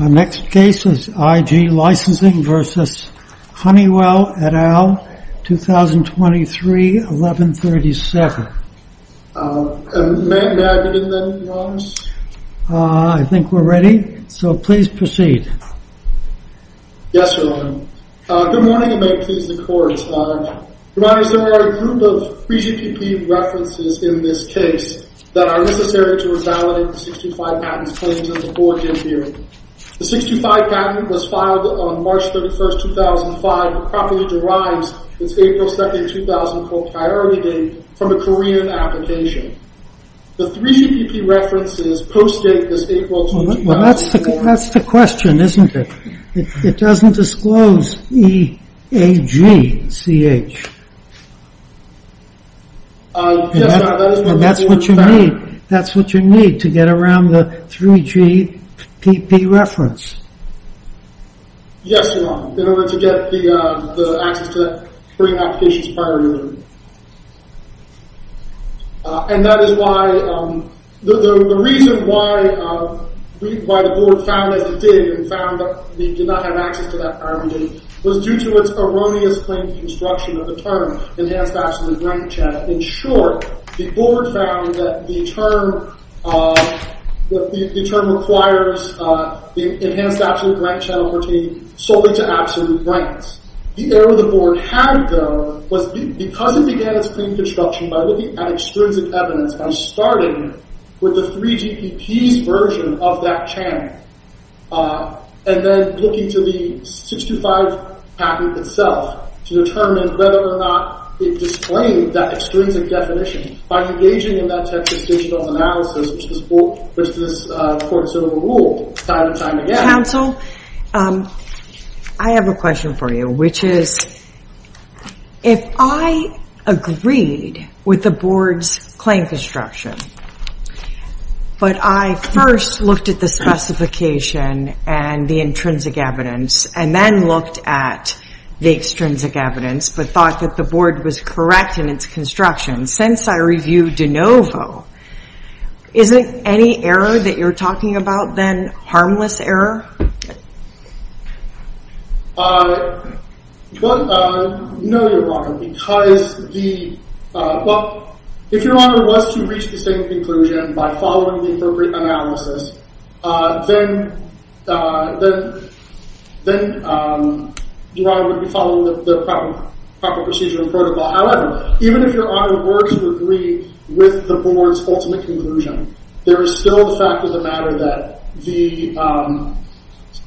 Next case is I.G. Licensing, S.A. v. Honeywell et al., 2023-11-37. May I begin then, Your Honors? I think we're ready, so please proceed. Yes, Your Honor. Good morning, and may it please the Court, Your Honor. Your Honor, there are a group of 3GPP references in this case that are necessary to revalidate the 625 patent's claims in the board dead period. The 625 patent was filed on March 31, 2005, but properly derives its April 2, 2004 priority date from a Korean application. The 3GPP references post-date this April 2, 2005. Well, that's the question, isn't it? It doesn't disclose E-A-G-C-H. Yes, Your Honor, that is what the board found. That's what you need to get around the 3GPP reference. Yes, Your Honor, in order to get the access to that Korean application's priority date. And that is why, the reason why the board found that it did, and found that we did not have access to that priority date, was due to its erroneous claim construction of the term, Enhanced Absolute Right Channel. In short, the board found that the term requires the Enhanced Absolute Right Channel to pertain solely to absolute rights. The error the board had, though, was because it began its claim construction by looking at extrinsic evidence, by starting with the 3GPP's version of that channel, and then looking to the 625 packet itself to determine whether or not it displayed that extrinsic definition. By engaging in that type of digital analysis, which this court sort of ruled time and time again. Counsel, I have a question for you, which is, if I agreed with the board's claim construction, but I first looked at the specification and the intrinsic evidence, and then looked at the extrinsic evidence, but thought that the board was correct in its construction, since I reviewed de novo, isn't any error that you're talking about, then, harmless error? No, you're wrong. Because the, well, if your honor was to reach the same conclusion by following the appropriate analysis, then your honor would be following the proper procedure and protocol. However, even if your honor were to agree with the board's ultimate conclusion, there is still the fact of the matter that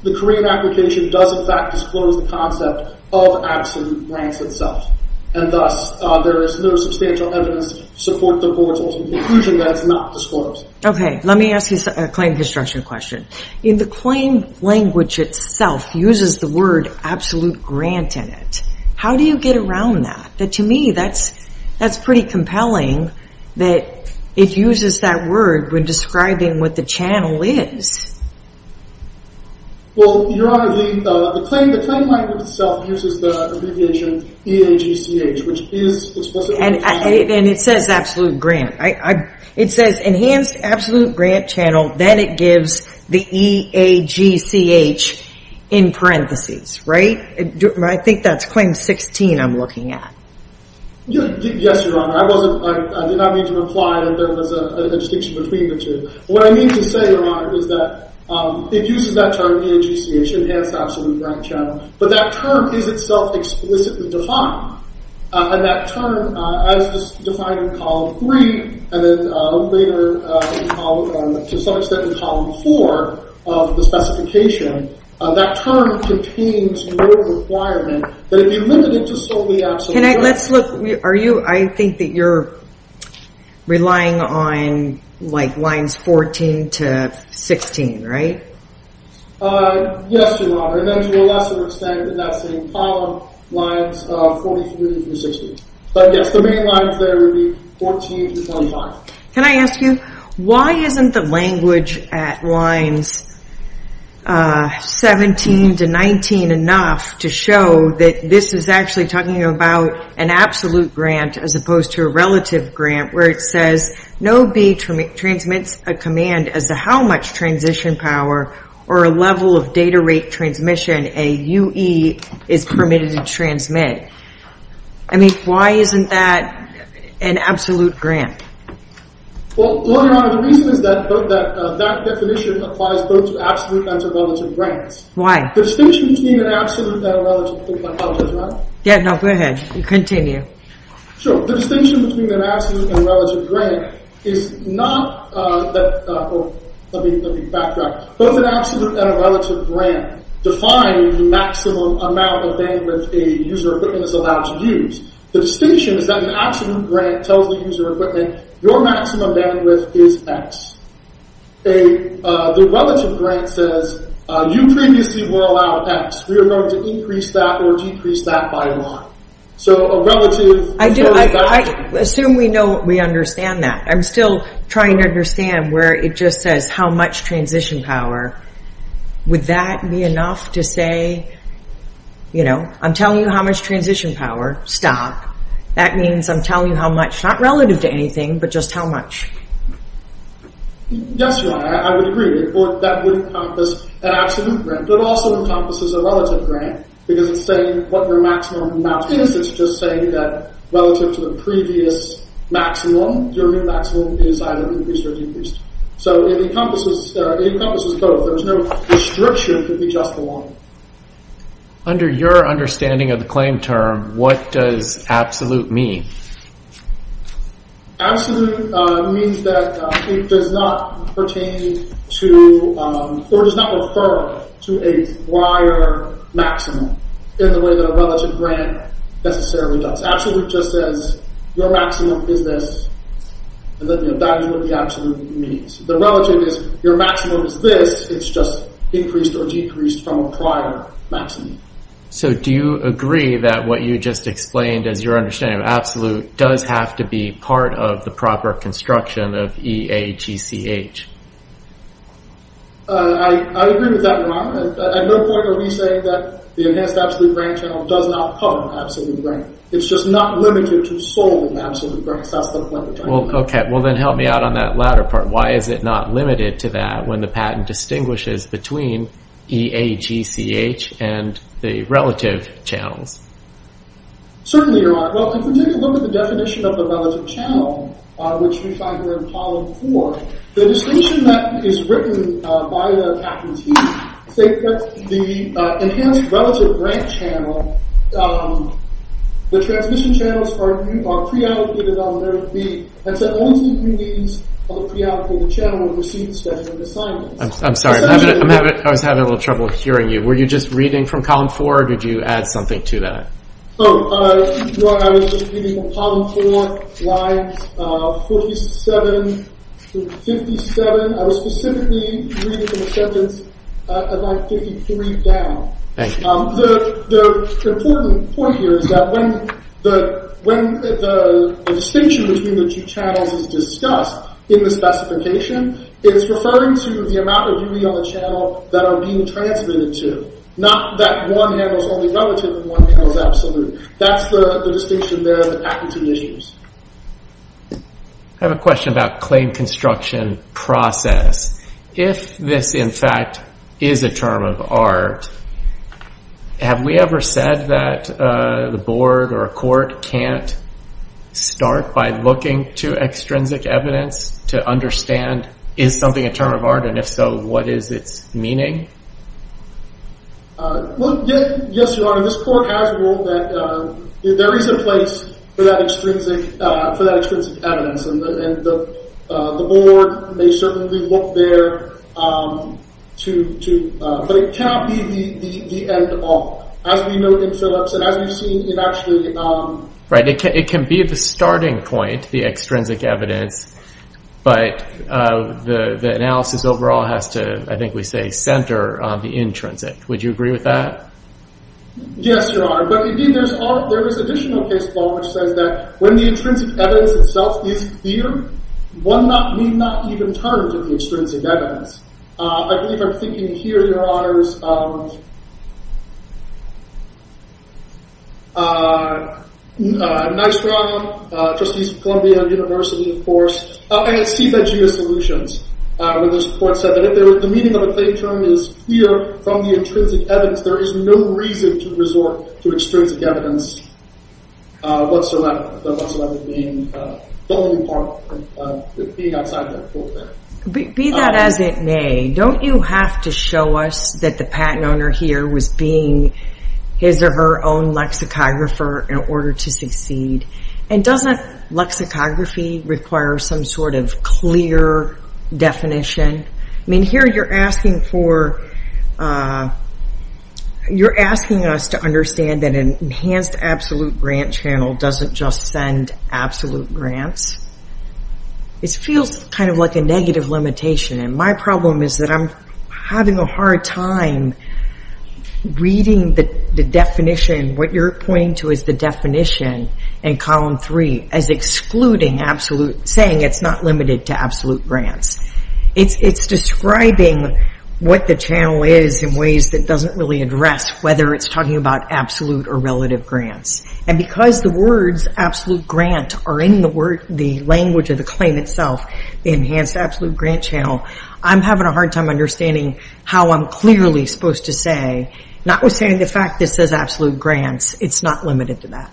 the Korean application does in fact disclose the concept of absolute grants itself. And thus, there is no substantial evidence to support the board's ultimate conclusion that it's not disclosed. Okay, let me ask you a claim construction question. If the claim language itself uses the word absolute grant in it, how do you get around that? To me, that's pretty compelling that it uses that word when describing what the channel is. Well, your honor, the claim language itself uses the abbreviation E-A-G-C-H, which is explicitly... And it says absolute grant. It says enhanced absolute grant channel, then it gives the E-A-G-C-H in parentheses, right? I think that's claim 16 I'm looking at. Yes, your honor. I did not mean to imply that there was a distinction between the two. What I mean to say, your honor, is that it uses that term E-A-G-C-H, enhanced absolute grant channel, but that term is itself explicitly defined. And that term, as defined in column 3, and then later to some extent in column 4 of the specification, that term contains no requirement that it be limited to solely absolute grant. I think that you're relying on lines 14 to 16, right? Yes, your honor. And then to a lesser extent in that same column, lines 43 through 60. But yes, the main lines there would be 14 through 25. Can I ask you, why isn't the language at lines 17 to 19 enough to show that this is actually talking about an absolute grant as opposed to a relative grant, where it says no B transmits a command as to how much transition power or a level of data rate transmission a U-E is permitted to transmit? I mean, why isn't that an absolute grant? Well, your honor, the reason is that that definition applies both to absolute and to relative grants. Why? The distinction between an absolute and a relative grant... I apologize. Yeah, no, go ahead. Continue. Sure. The distinction between an absolute and a relative grant is not... Let me backtrack. Both an absolute and a relative grant define the maximum amount of bandwidth a user equipment is allowed to use. The distinction is that an absolute grant tells the user equipment, your maximum bandwidth is X. The relative grant says, you previously were allowed X. We are going to increase that or decrease that by a lot. So a relative... I assume we understand that. I'm still trying to understand where it just says how much transition power. Would that be enough to say, you know, I'm telling you how much transition power, stop. That means I'm telling you how much, not relative to anything, but just how much. Yes, Your Honor, I would agree with that. That would encompass an absolute grant, but it also encompasses a relative grant because it's saying what your maximum amount is. It's just saying that relative to the previous maximum, your new maximum is either increased or decreased. So it encompasses both. There's no restriction to be just the one. Under your understanding of the claim term, what does absolute mean? Absolute means that it does not pertain to or does not refer to a prior maximum in the way that a relative grant necessarily does. Absolute just says, your maximum is this. That is what the absolute means. The relative is, your maximum is this. It's just increased or decreased from a prior maximum. So do you agree that what you just explained, as your understanding of absolute, does have to be part of the proper construction of EAGCH? I agree with that, Your Honor. At no point are we saying that the Enhanced Absolute Grant Channel does not cover absolute grant. It's just not limited to solely absolute grants. That's the point of the claim. Okay, well then help me out on that latter part. Why is it not limited to that when the patent distinguishes between EAGCH and the relative channels? Certainly, Your Honor. Well, if we take a look at the definition of the relative channel, which we find here in column 4, the distinction that is written by the patentee is that the Enhanced Relative Grant Channel, the transmission channels are pre-allocated on their lead. That's the only two pre-leads of the pre-allocated channel I'm sorry. I was having a little trouble hearing you. Were you just reading from column 4, or did you add something to that? No, Your Honor. I was just reading from column 4, lines 47 through 57. I was specifically reading from the sentence at line 53 down. The important point here is that when the distinction between the two channels is discussed in the specification, it's referring to the amount of duty on the channel that are being transmitted to, not that one handles only relative and one handles absolute. That's the distinction there that the patentee issues. I have a question about claim construction process. If this, in fact, is a term of art, have we ever said that the board or a court can't start by looking to extrinsic evidence to understand is something a term of art, and if so, what is its meaning? Yes, Your Honor. This court has ruled that there is a place for that extrinsic evidence. The board may certainly look there, but it cannot be the end all. As we know in Phillips and as we've seen, it actually... Right, it can be the starting point, the extrinsic evidence, but the analysis overall has to, I think we say, center on the intrinsic. Would you agree with that? Yes, Your Honor. But again, there is additional case law which says that when the intrinsic evidence itself is clear, one may not even turn to the extrinsic evidence. I believe I'm thinking here, Your Honors, Nye Strong, Trustees of Columbia University, of course, and CFAGIA Solutions, where this court said that if the meaning of a claim term is clear from the intrinsic evidence, there is no reason to resort to extrinsic evidence whatsoever, being outside that court there. Be that as it may, don't you have to show us that the patent owner here was being his or her own lexicographer in order to succeed? And doesn't lexicography require some sort of clear definition? I mean, here you're asking us to understand that an enhanced absolute grant channel doesn't just send absolute grants. It feels kind of like a negative limitation, and my problem is that I'm having a hard time reading the definition, what you're pointing to as the definition in column three as excluding absolute, saying it's not limited to absolute grants. It's describing what the channel is in ways that doesn't really address whether it's talking about absolute or relative grants. And because the words absolute grant are in the language of the claim itself, the enhanced absolute grant channel, I'm having a hard time understanding how I'm clearly supposed to say, notwithstanding the fact that it says absolute grants, it's not limited to that.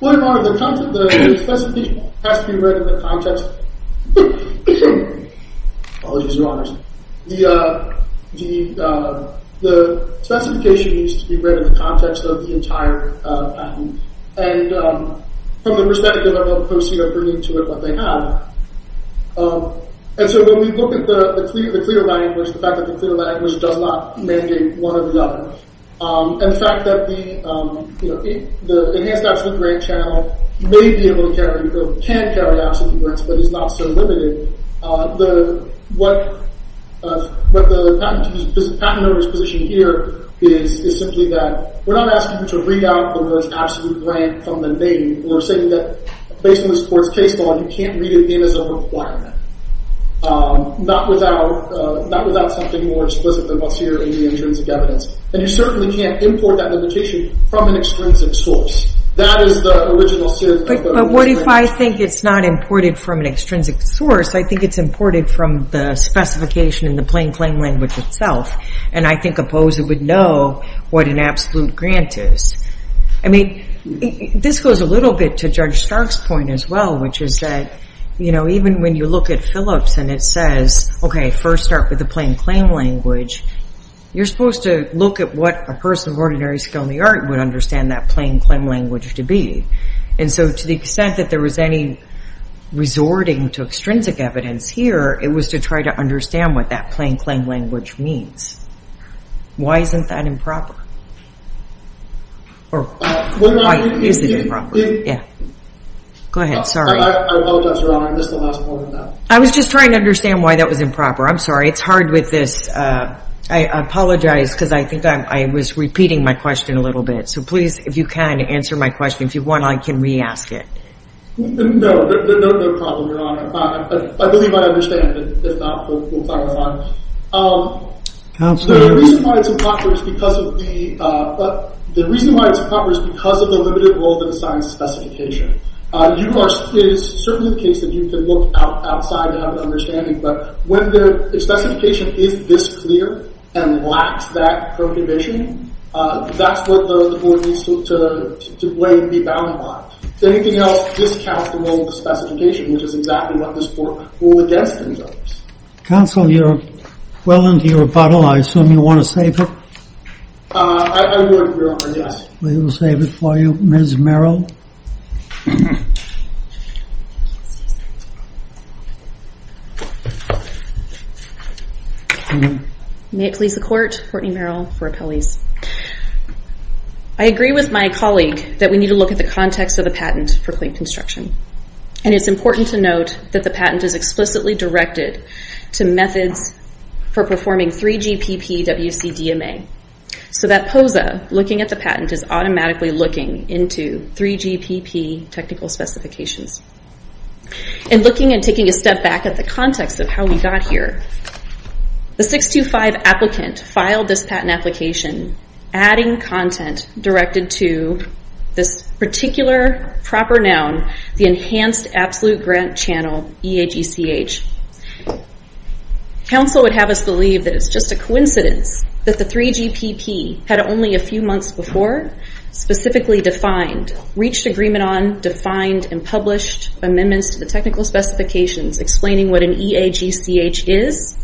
Well, Your Honor, the specification has to be read in the context. Apologies, Your Honors. The specification needs to be read in the context of the entire patent. And from the perspective of the post here, bringing to it what they have. And so when we look at the clear language, the fact that the clear language does not mandate one or the other. And the fact that the enhanced absolute grant channel may be able to carry, or can carry absolute grants, but is not so limited. What the patent owner's position here is simply that we're not asking you to read out the word absolute grant from the name. We're saying that, based on this court's case law, you can't read it in as a requirement. Not without something more explicit than what's here in the intrinsic evidence. And you certainly can't import that limitation from an extrinsic source. That is the original series of questions. But what if I think it's not imported from an extrinsic source? I think it's imported from the specification in the plain claim language itself. And I think a POSA would know what an absolute grant is. I mean, this goes a little bit to Judge Stark's point as well, which is that even when you look at Phillips and it says, OK, first start with the plain claim language, you're supposed to look at what a person of ordinary skill in the art would understand that plain claim language to be. And so to the extent that there was any resorting to extrinsic evidence here, it was to try to understand what that plain claim language means. Why isn't that improper? Or why is it improper? Go ahead. Sorry. I apologize, Your Honor. I missed the last part of that. I was just trying to understand why that was improper. I'm sorry. It's hard with this. I apologize, because I think I was repeating my question a little bit. So please, if you can, answer my question. If you want, I can re-ask it. No. No problem, Your Honor. I believe I understand. If not, we'll clarify. Counselor. The reason why it's improper is because of the limited role of the science specification. It is certainly the case that you can look outside and have an understanding. But when the specification is this clear and lacks that prohibition, that's what the board needs to weigh and be bound upon. If anything else, this counts the role of the specification, which is exactly what this board will adjust to. Counselor, you're well into your rebuttal. I assume you want to save it? I would, Your Honor, yes. We will save it for you. Ms. Merrill. May it please the court, Courtney Merrill for appellees. I agree with my colleague that we need to look at the context of the patent for clean construction. And it's important to note that the patent is explicitly directed to methods for performing 3GPP WCDMA. So that POSA looking at the patent is automatically looking into 3GPP technical specifications. In looking and taking a step back at the context of how we got here, the 625 applicant filed this patent application adding content directed to this particular proper noun, the Enhanced Absolute Grant Channel, EAGCH. Counsel would have us believe that it's just a coincidence that the 3GPP had only a few months before specifically defined, reached agreement on, defined and published amendments to the technical specifications explaining what an EAGCH is.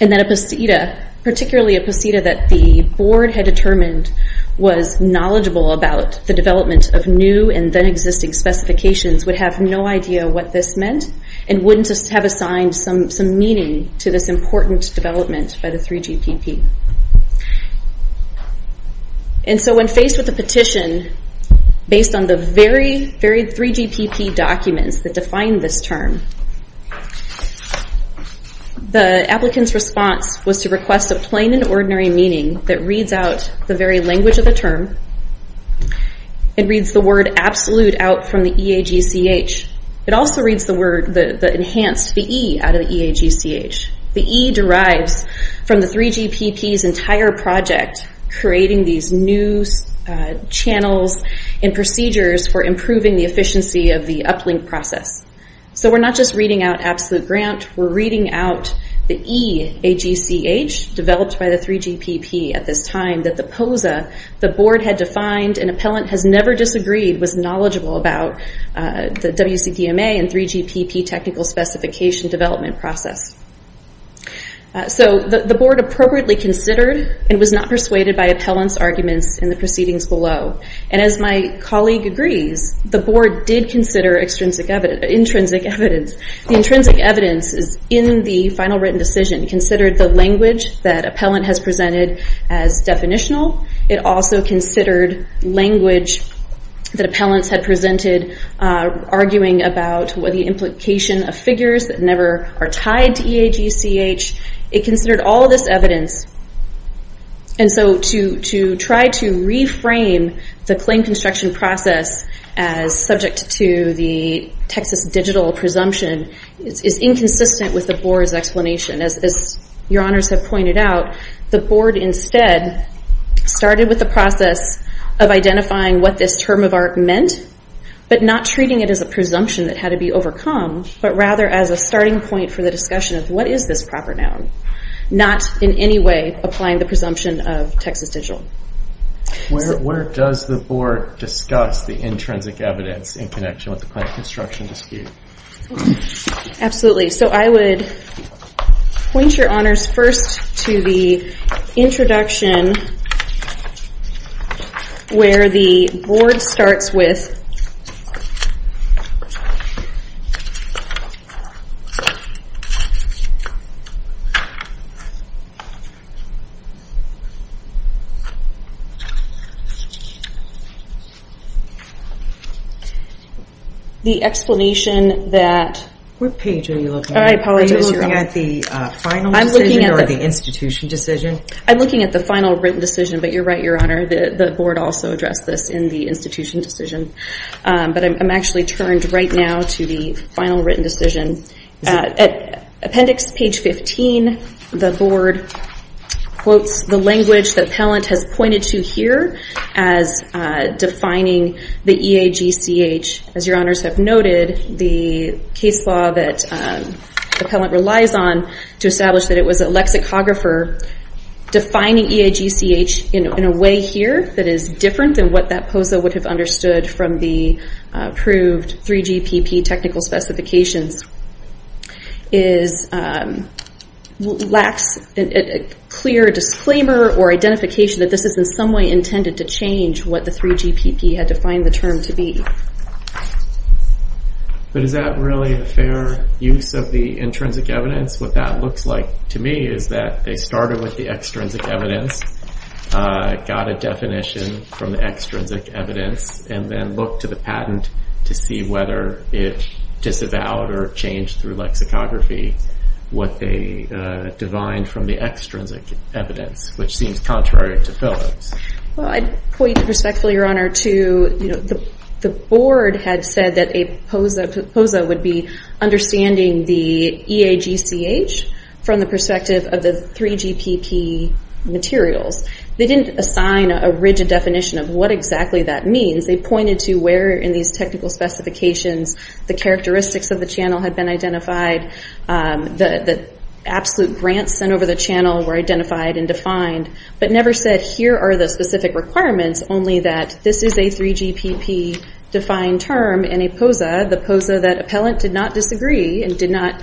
And that a posita, particularly a posita that the board had determined was knowledgeable about the development of new and then existing specifications would have no idea what this meant and wouldn't have assigned some meaning to this important development by the 3GPP. And so when faced with a petition based on the very, very 3GPP documents that define this term, the applicant's response was to request a plain and ordinary meaning that reads out the very language of the term. It reads the word absolute out from the EAGCH. It also reads the word, the enhanced, the E out of the EAGCH. The E derives from the 3GPP's entire project creating these new channels and procedures for improving the efficiency of the uplink process. So we're not just reading out absolute grant, we're reading out the EAGCH developed by the 3GPP at this time that the posita the board had defined and appellant has never disagreed was knowledgeable about the WCDMA and 3GPP technical specification development process. So the board appropriately considered and was not persuaded by appellant's arguments in the proceedings below. And as my colleague agrees, the board did consider intrinsic evidence. The intrinsic evidence is in the final written decision. It considered the language that appellant has presented as definitional. It also considered language that appellants had presented arguing about the implication of figures that never are tied to EAGCH. It considered all this evidence and so to try to reframe the claim construction process as subject to the Texas Digital presumption is inconsistent with the board's explanation. As your honors have pointed out, the board instead started with the process of identifying what this term of art meant but not treating it as a presumption that had to be overcome, but rather as a starting point for the discussion of what is this proper noun. Not in any way applying the presumption of Texas Digital. Where does the board discuss the intrinsic evidence in connection with the claim construction dispute? Absolutely. So I would point your honors first to the introduction where the board starts with the explanation that... What page are you looking at? I apologize, your honor. Are you looking at the final decision or the institution decision? I'm looking at the final written decision, but you're right, your honor. The board also addressed this in the institution decision, but I'm actually turned right now to the final written decision. At appendix page 15, the board quotes the language that Pellant has pointed to here as defining the EAGCH. As your honors have noted, the case law that Pellant relies on to establish that it was a lexicographer defining EAGCH in a way here that is different than what that POSA would have understood from the approved 3GPP technical specifications lacks a clear disclaimer or identification that this is in some way intended to change what the 3GPP had defined the term to be. But is that really a fair use of the intrinsic evidence? What that looks like to me is that they started with the extrinsic evidence, got a definition from the extrinsic evidence, and then looked to the patent to see whether it disavowed or changed through lexicography what they defined from the extrinsic evidence, which seems contrary to Pellant's. I'd point respectfully, your honor, to the board had said that POSA would be understanding the EAGCH from the perspective of the 3GPP materials. They didn't assign a rigid definition of what exactly that means. They pointed to where in these technical specifications the characteristics of the channel had been identified, the absolute grants sent over the channel were identified and defined, but never said here are the specific requirements, only that this is a 3GPP defined term and a POSA, the POSA that Appellant did not disagree and did not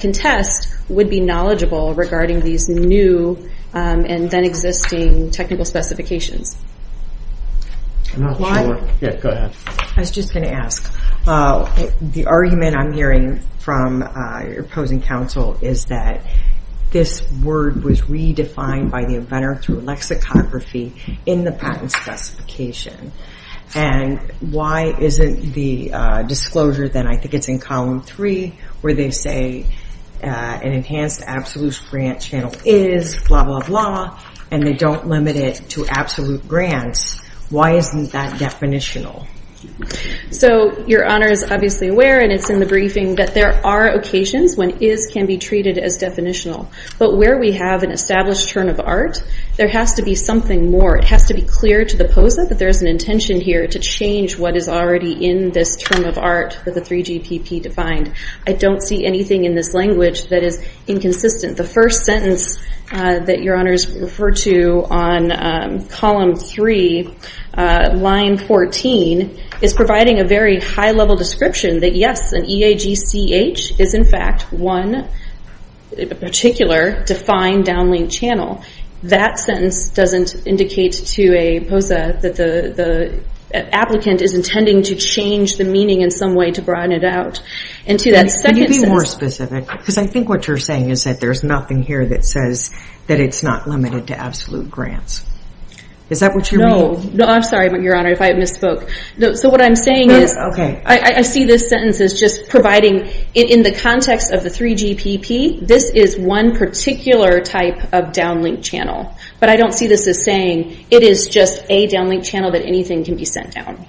contest, would be knowledgeable regarding these new and then existing technical specifications. I was just going to ask. The argument I'm hearing from opposing counsel is that this word was redefined by the inventor through lexicography in the patent specification. Why isn't the disclosure, I think it's in column three, where they say an enhanced absolute grant channel is blah blah blah, and they don't limit it to absolute grants. Why isn't that definitional? Your honor is obviously aware, and it's in the briefing, that there are occasions when is can be treated as definitional, but where we have an established term of art, there has to be something more. It has to be clear to the POSA that there is an intention here to change what is already in this term of art for the 3GPP defined. I don't see anything in this language that is inconsistent. The first sentence that your honors refer to on column three, line 14, is providing a very high level description that yes, an EAGCH is in fact one particular defined downlink channel. That sentence doesn't indicate to a POSA that the applicant is intending to change the meaning in some way to broaden it out. Can you be more specific? Because I think what you're saying is that there's nothing here that says that it's not limited to absolute grants. Is that what you mean? No, I'm sorry your honor if I misspoke. What I'm saying is, I see this sentence as just providing in the context of the 3GPP, this is one particular type of downlink channel. But I don't see this as saying it is just a downlink channel that anything can be sent down.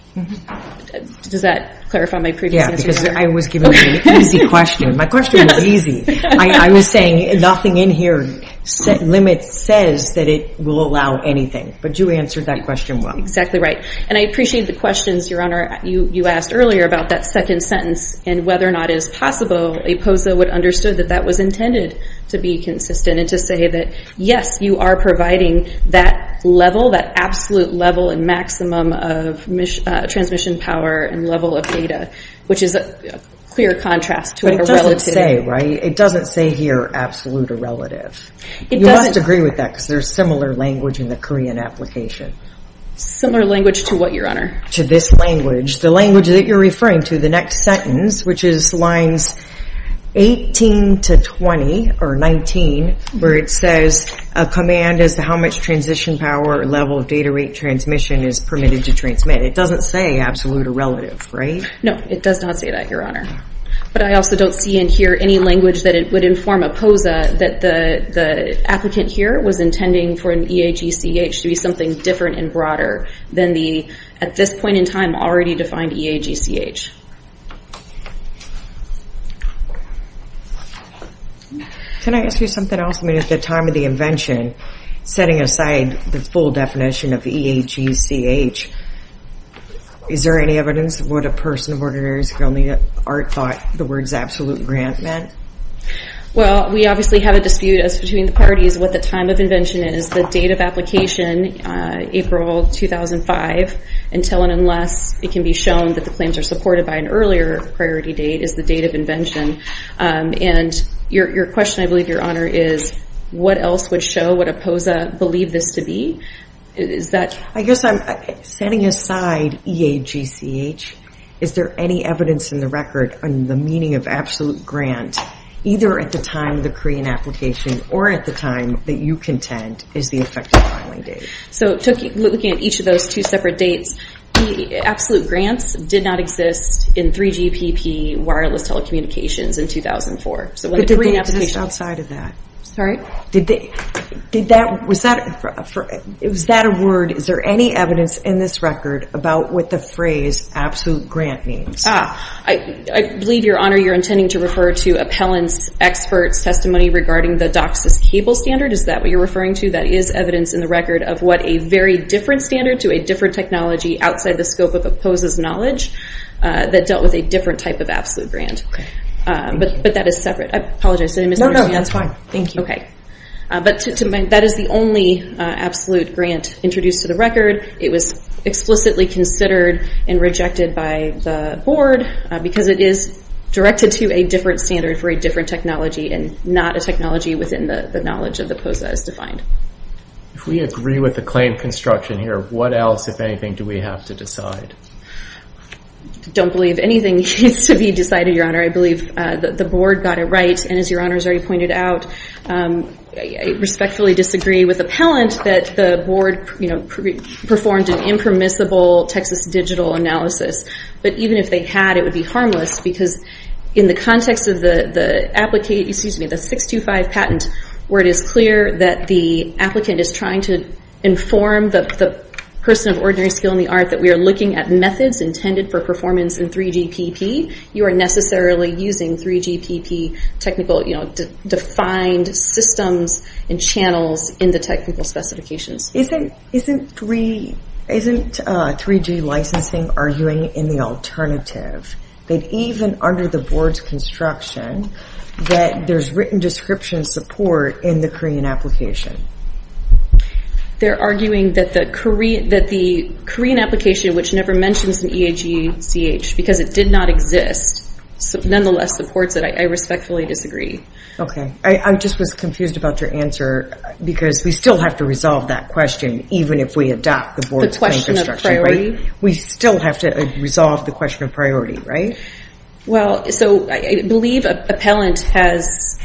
Does that clarify my previous answer? Yeah, because I was giving you an easy question. My question was easy. I was saying nothing in here limits says that it will allow anything. But you answered that question well. Exactly right. And I appreciate the questions your honor. You asked earlier about that second sentence and whether or not it is possible a POSA would understand that that was intended to be consistent and to say that yes you are providing that level, that absolute level and maximum of transmission power and level of data. Which is a clear contrast to a relative. It doesn't say right? It doesn't say here absolute or relative. You must agree with that because there's similar language in the Korean application. Similar language to what your honor? To this language. The language that your referring to. The next sentence which is lines 18 to 20 or 19 where it says a command is how much transition power or level of data rate transmission is permitted to transmit. It doesn't say absolute or relative right? No, it does not say that your honor. But I also don't see in here any language that it would inform a POSA that the applicant here was intending for an EAGCH to be something different and broader than the at this point in time already defined EAGCH. Can I ask you something else? I mean at the time of the invention setting aside the full definition of EAGCH is there any evidence of what a person of ordinary skill in the art thought the words absolute grant meant? Well, we obviously have a dispute as between the parties what the time of invention is. The date of application April 2005 until and unless it can be shown that the claims are supported by an earlier priority date is the date of invention. And your question I believe your honor is what else would show what a POSA believe this to be? I guess I'm setting aside EAGCH. Is there any evidence in the record on the meaning of absolute grant either at the time of the Korean application or at the time that you contend is the effective filing date? So looking at each of those two separate dates absolute grants did not exist in 3GPP wireless telecommunications in 2004. But did they exist outside of that? Did that was that was that a word is there any evidence in this record about what the phrase absolute grant means? I believe your honor you're intending to refer to appellants experts testimony regarding the DOCSIS cable standard is that what you're referring to? That is evidence in the record of what a very different standard to a different technology outside the scope of the POSA's knowledge that dealt with a different type of absolute grant. But that is separate. I apologize. Did I misunderstand? No, no, that's fine. Thank you. Okay. But to my that is the only absolute grant introduced to the record. It was explicitly considered and rejected by the board because it is directed to a different standard for a different technology and not a technology within the knowledge of the POSA as defined. If we agree with the claim construction here what else if anything do we have to decide? I don't believe anything needs to be decided your honor. I believe the board got it right and as your honor has already pointed out I respectfully disagree with appellant that the board you know performed an impermissible Texas digital analysis but even if they had it would be harmless because in the context of the applicant excuse me the 625 patent where it is clear that the applicant is trying to inform the person of ordinary skill in the art that we are looking at methods intended for performance in 3GPP you are necessarily using 3GPP technical you know defined systems and channels in the technical specifications. 3G licensing arguing in the alternative that even under the board's construction that there is written description support in the Korean application. They are arguing that the Korean application which never mentions EACH because it did not exist nonetheless supports it I respectfully disagree. I was just confused about your answer because we still have to resolve that question even if we adopt the board's construction. We still have to resolve the question of right? I believe appellant has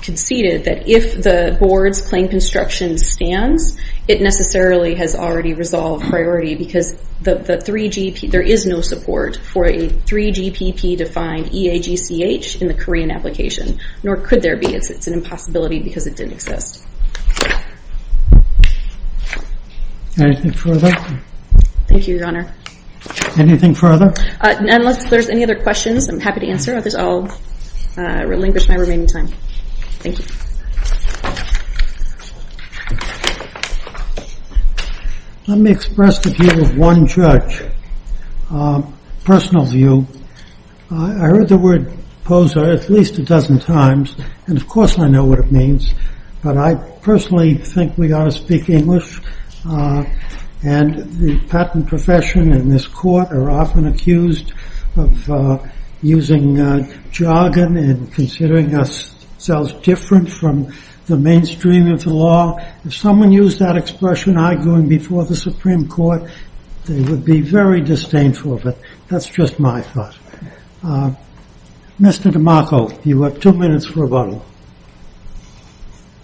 conceded that if the board's construction stands it necessarily has already resolved priority because there is no support for a new board this question I will relinquish my remaining time. Thank you. Let me express the view of one judge. Personal opinion think we ought to speak English and the patent profession in this court are often accused of using jargon and considering ourselves different from the mainstream of the law. If someone used that expression before the Supreme Court they would be disdainful. That's just my thought. Mr. DiMarco, you have two minutes for rebuttal.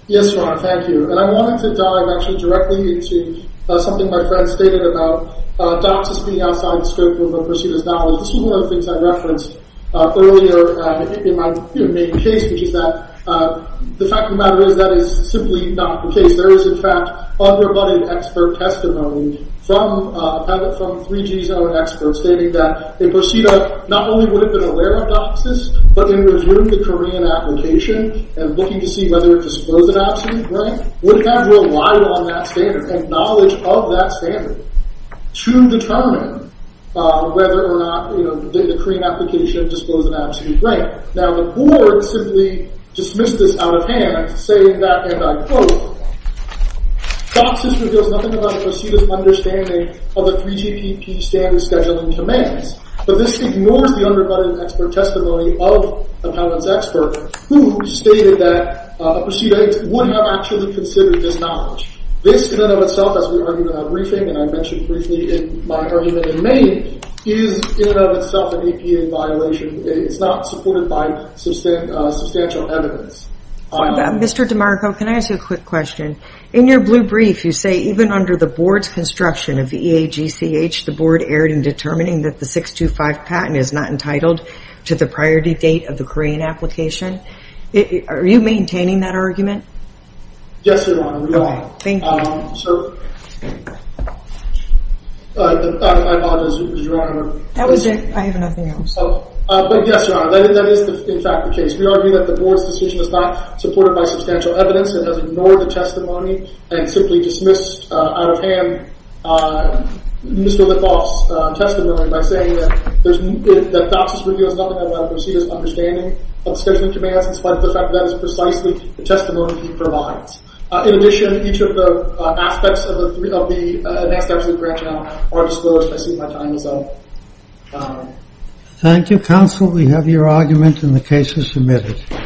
Yes, thank you. I wanted to directly to something my friend stated about doctors being outside law. Thank you, counsel, we have your argument and the case is submitted.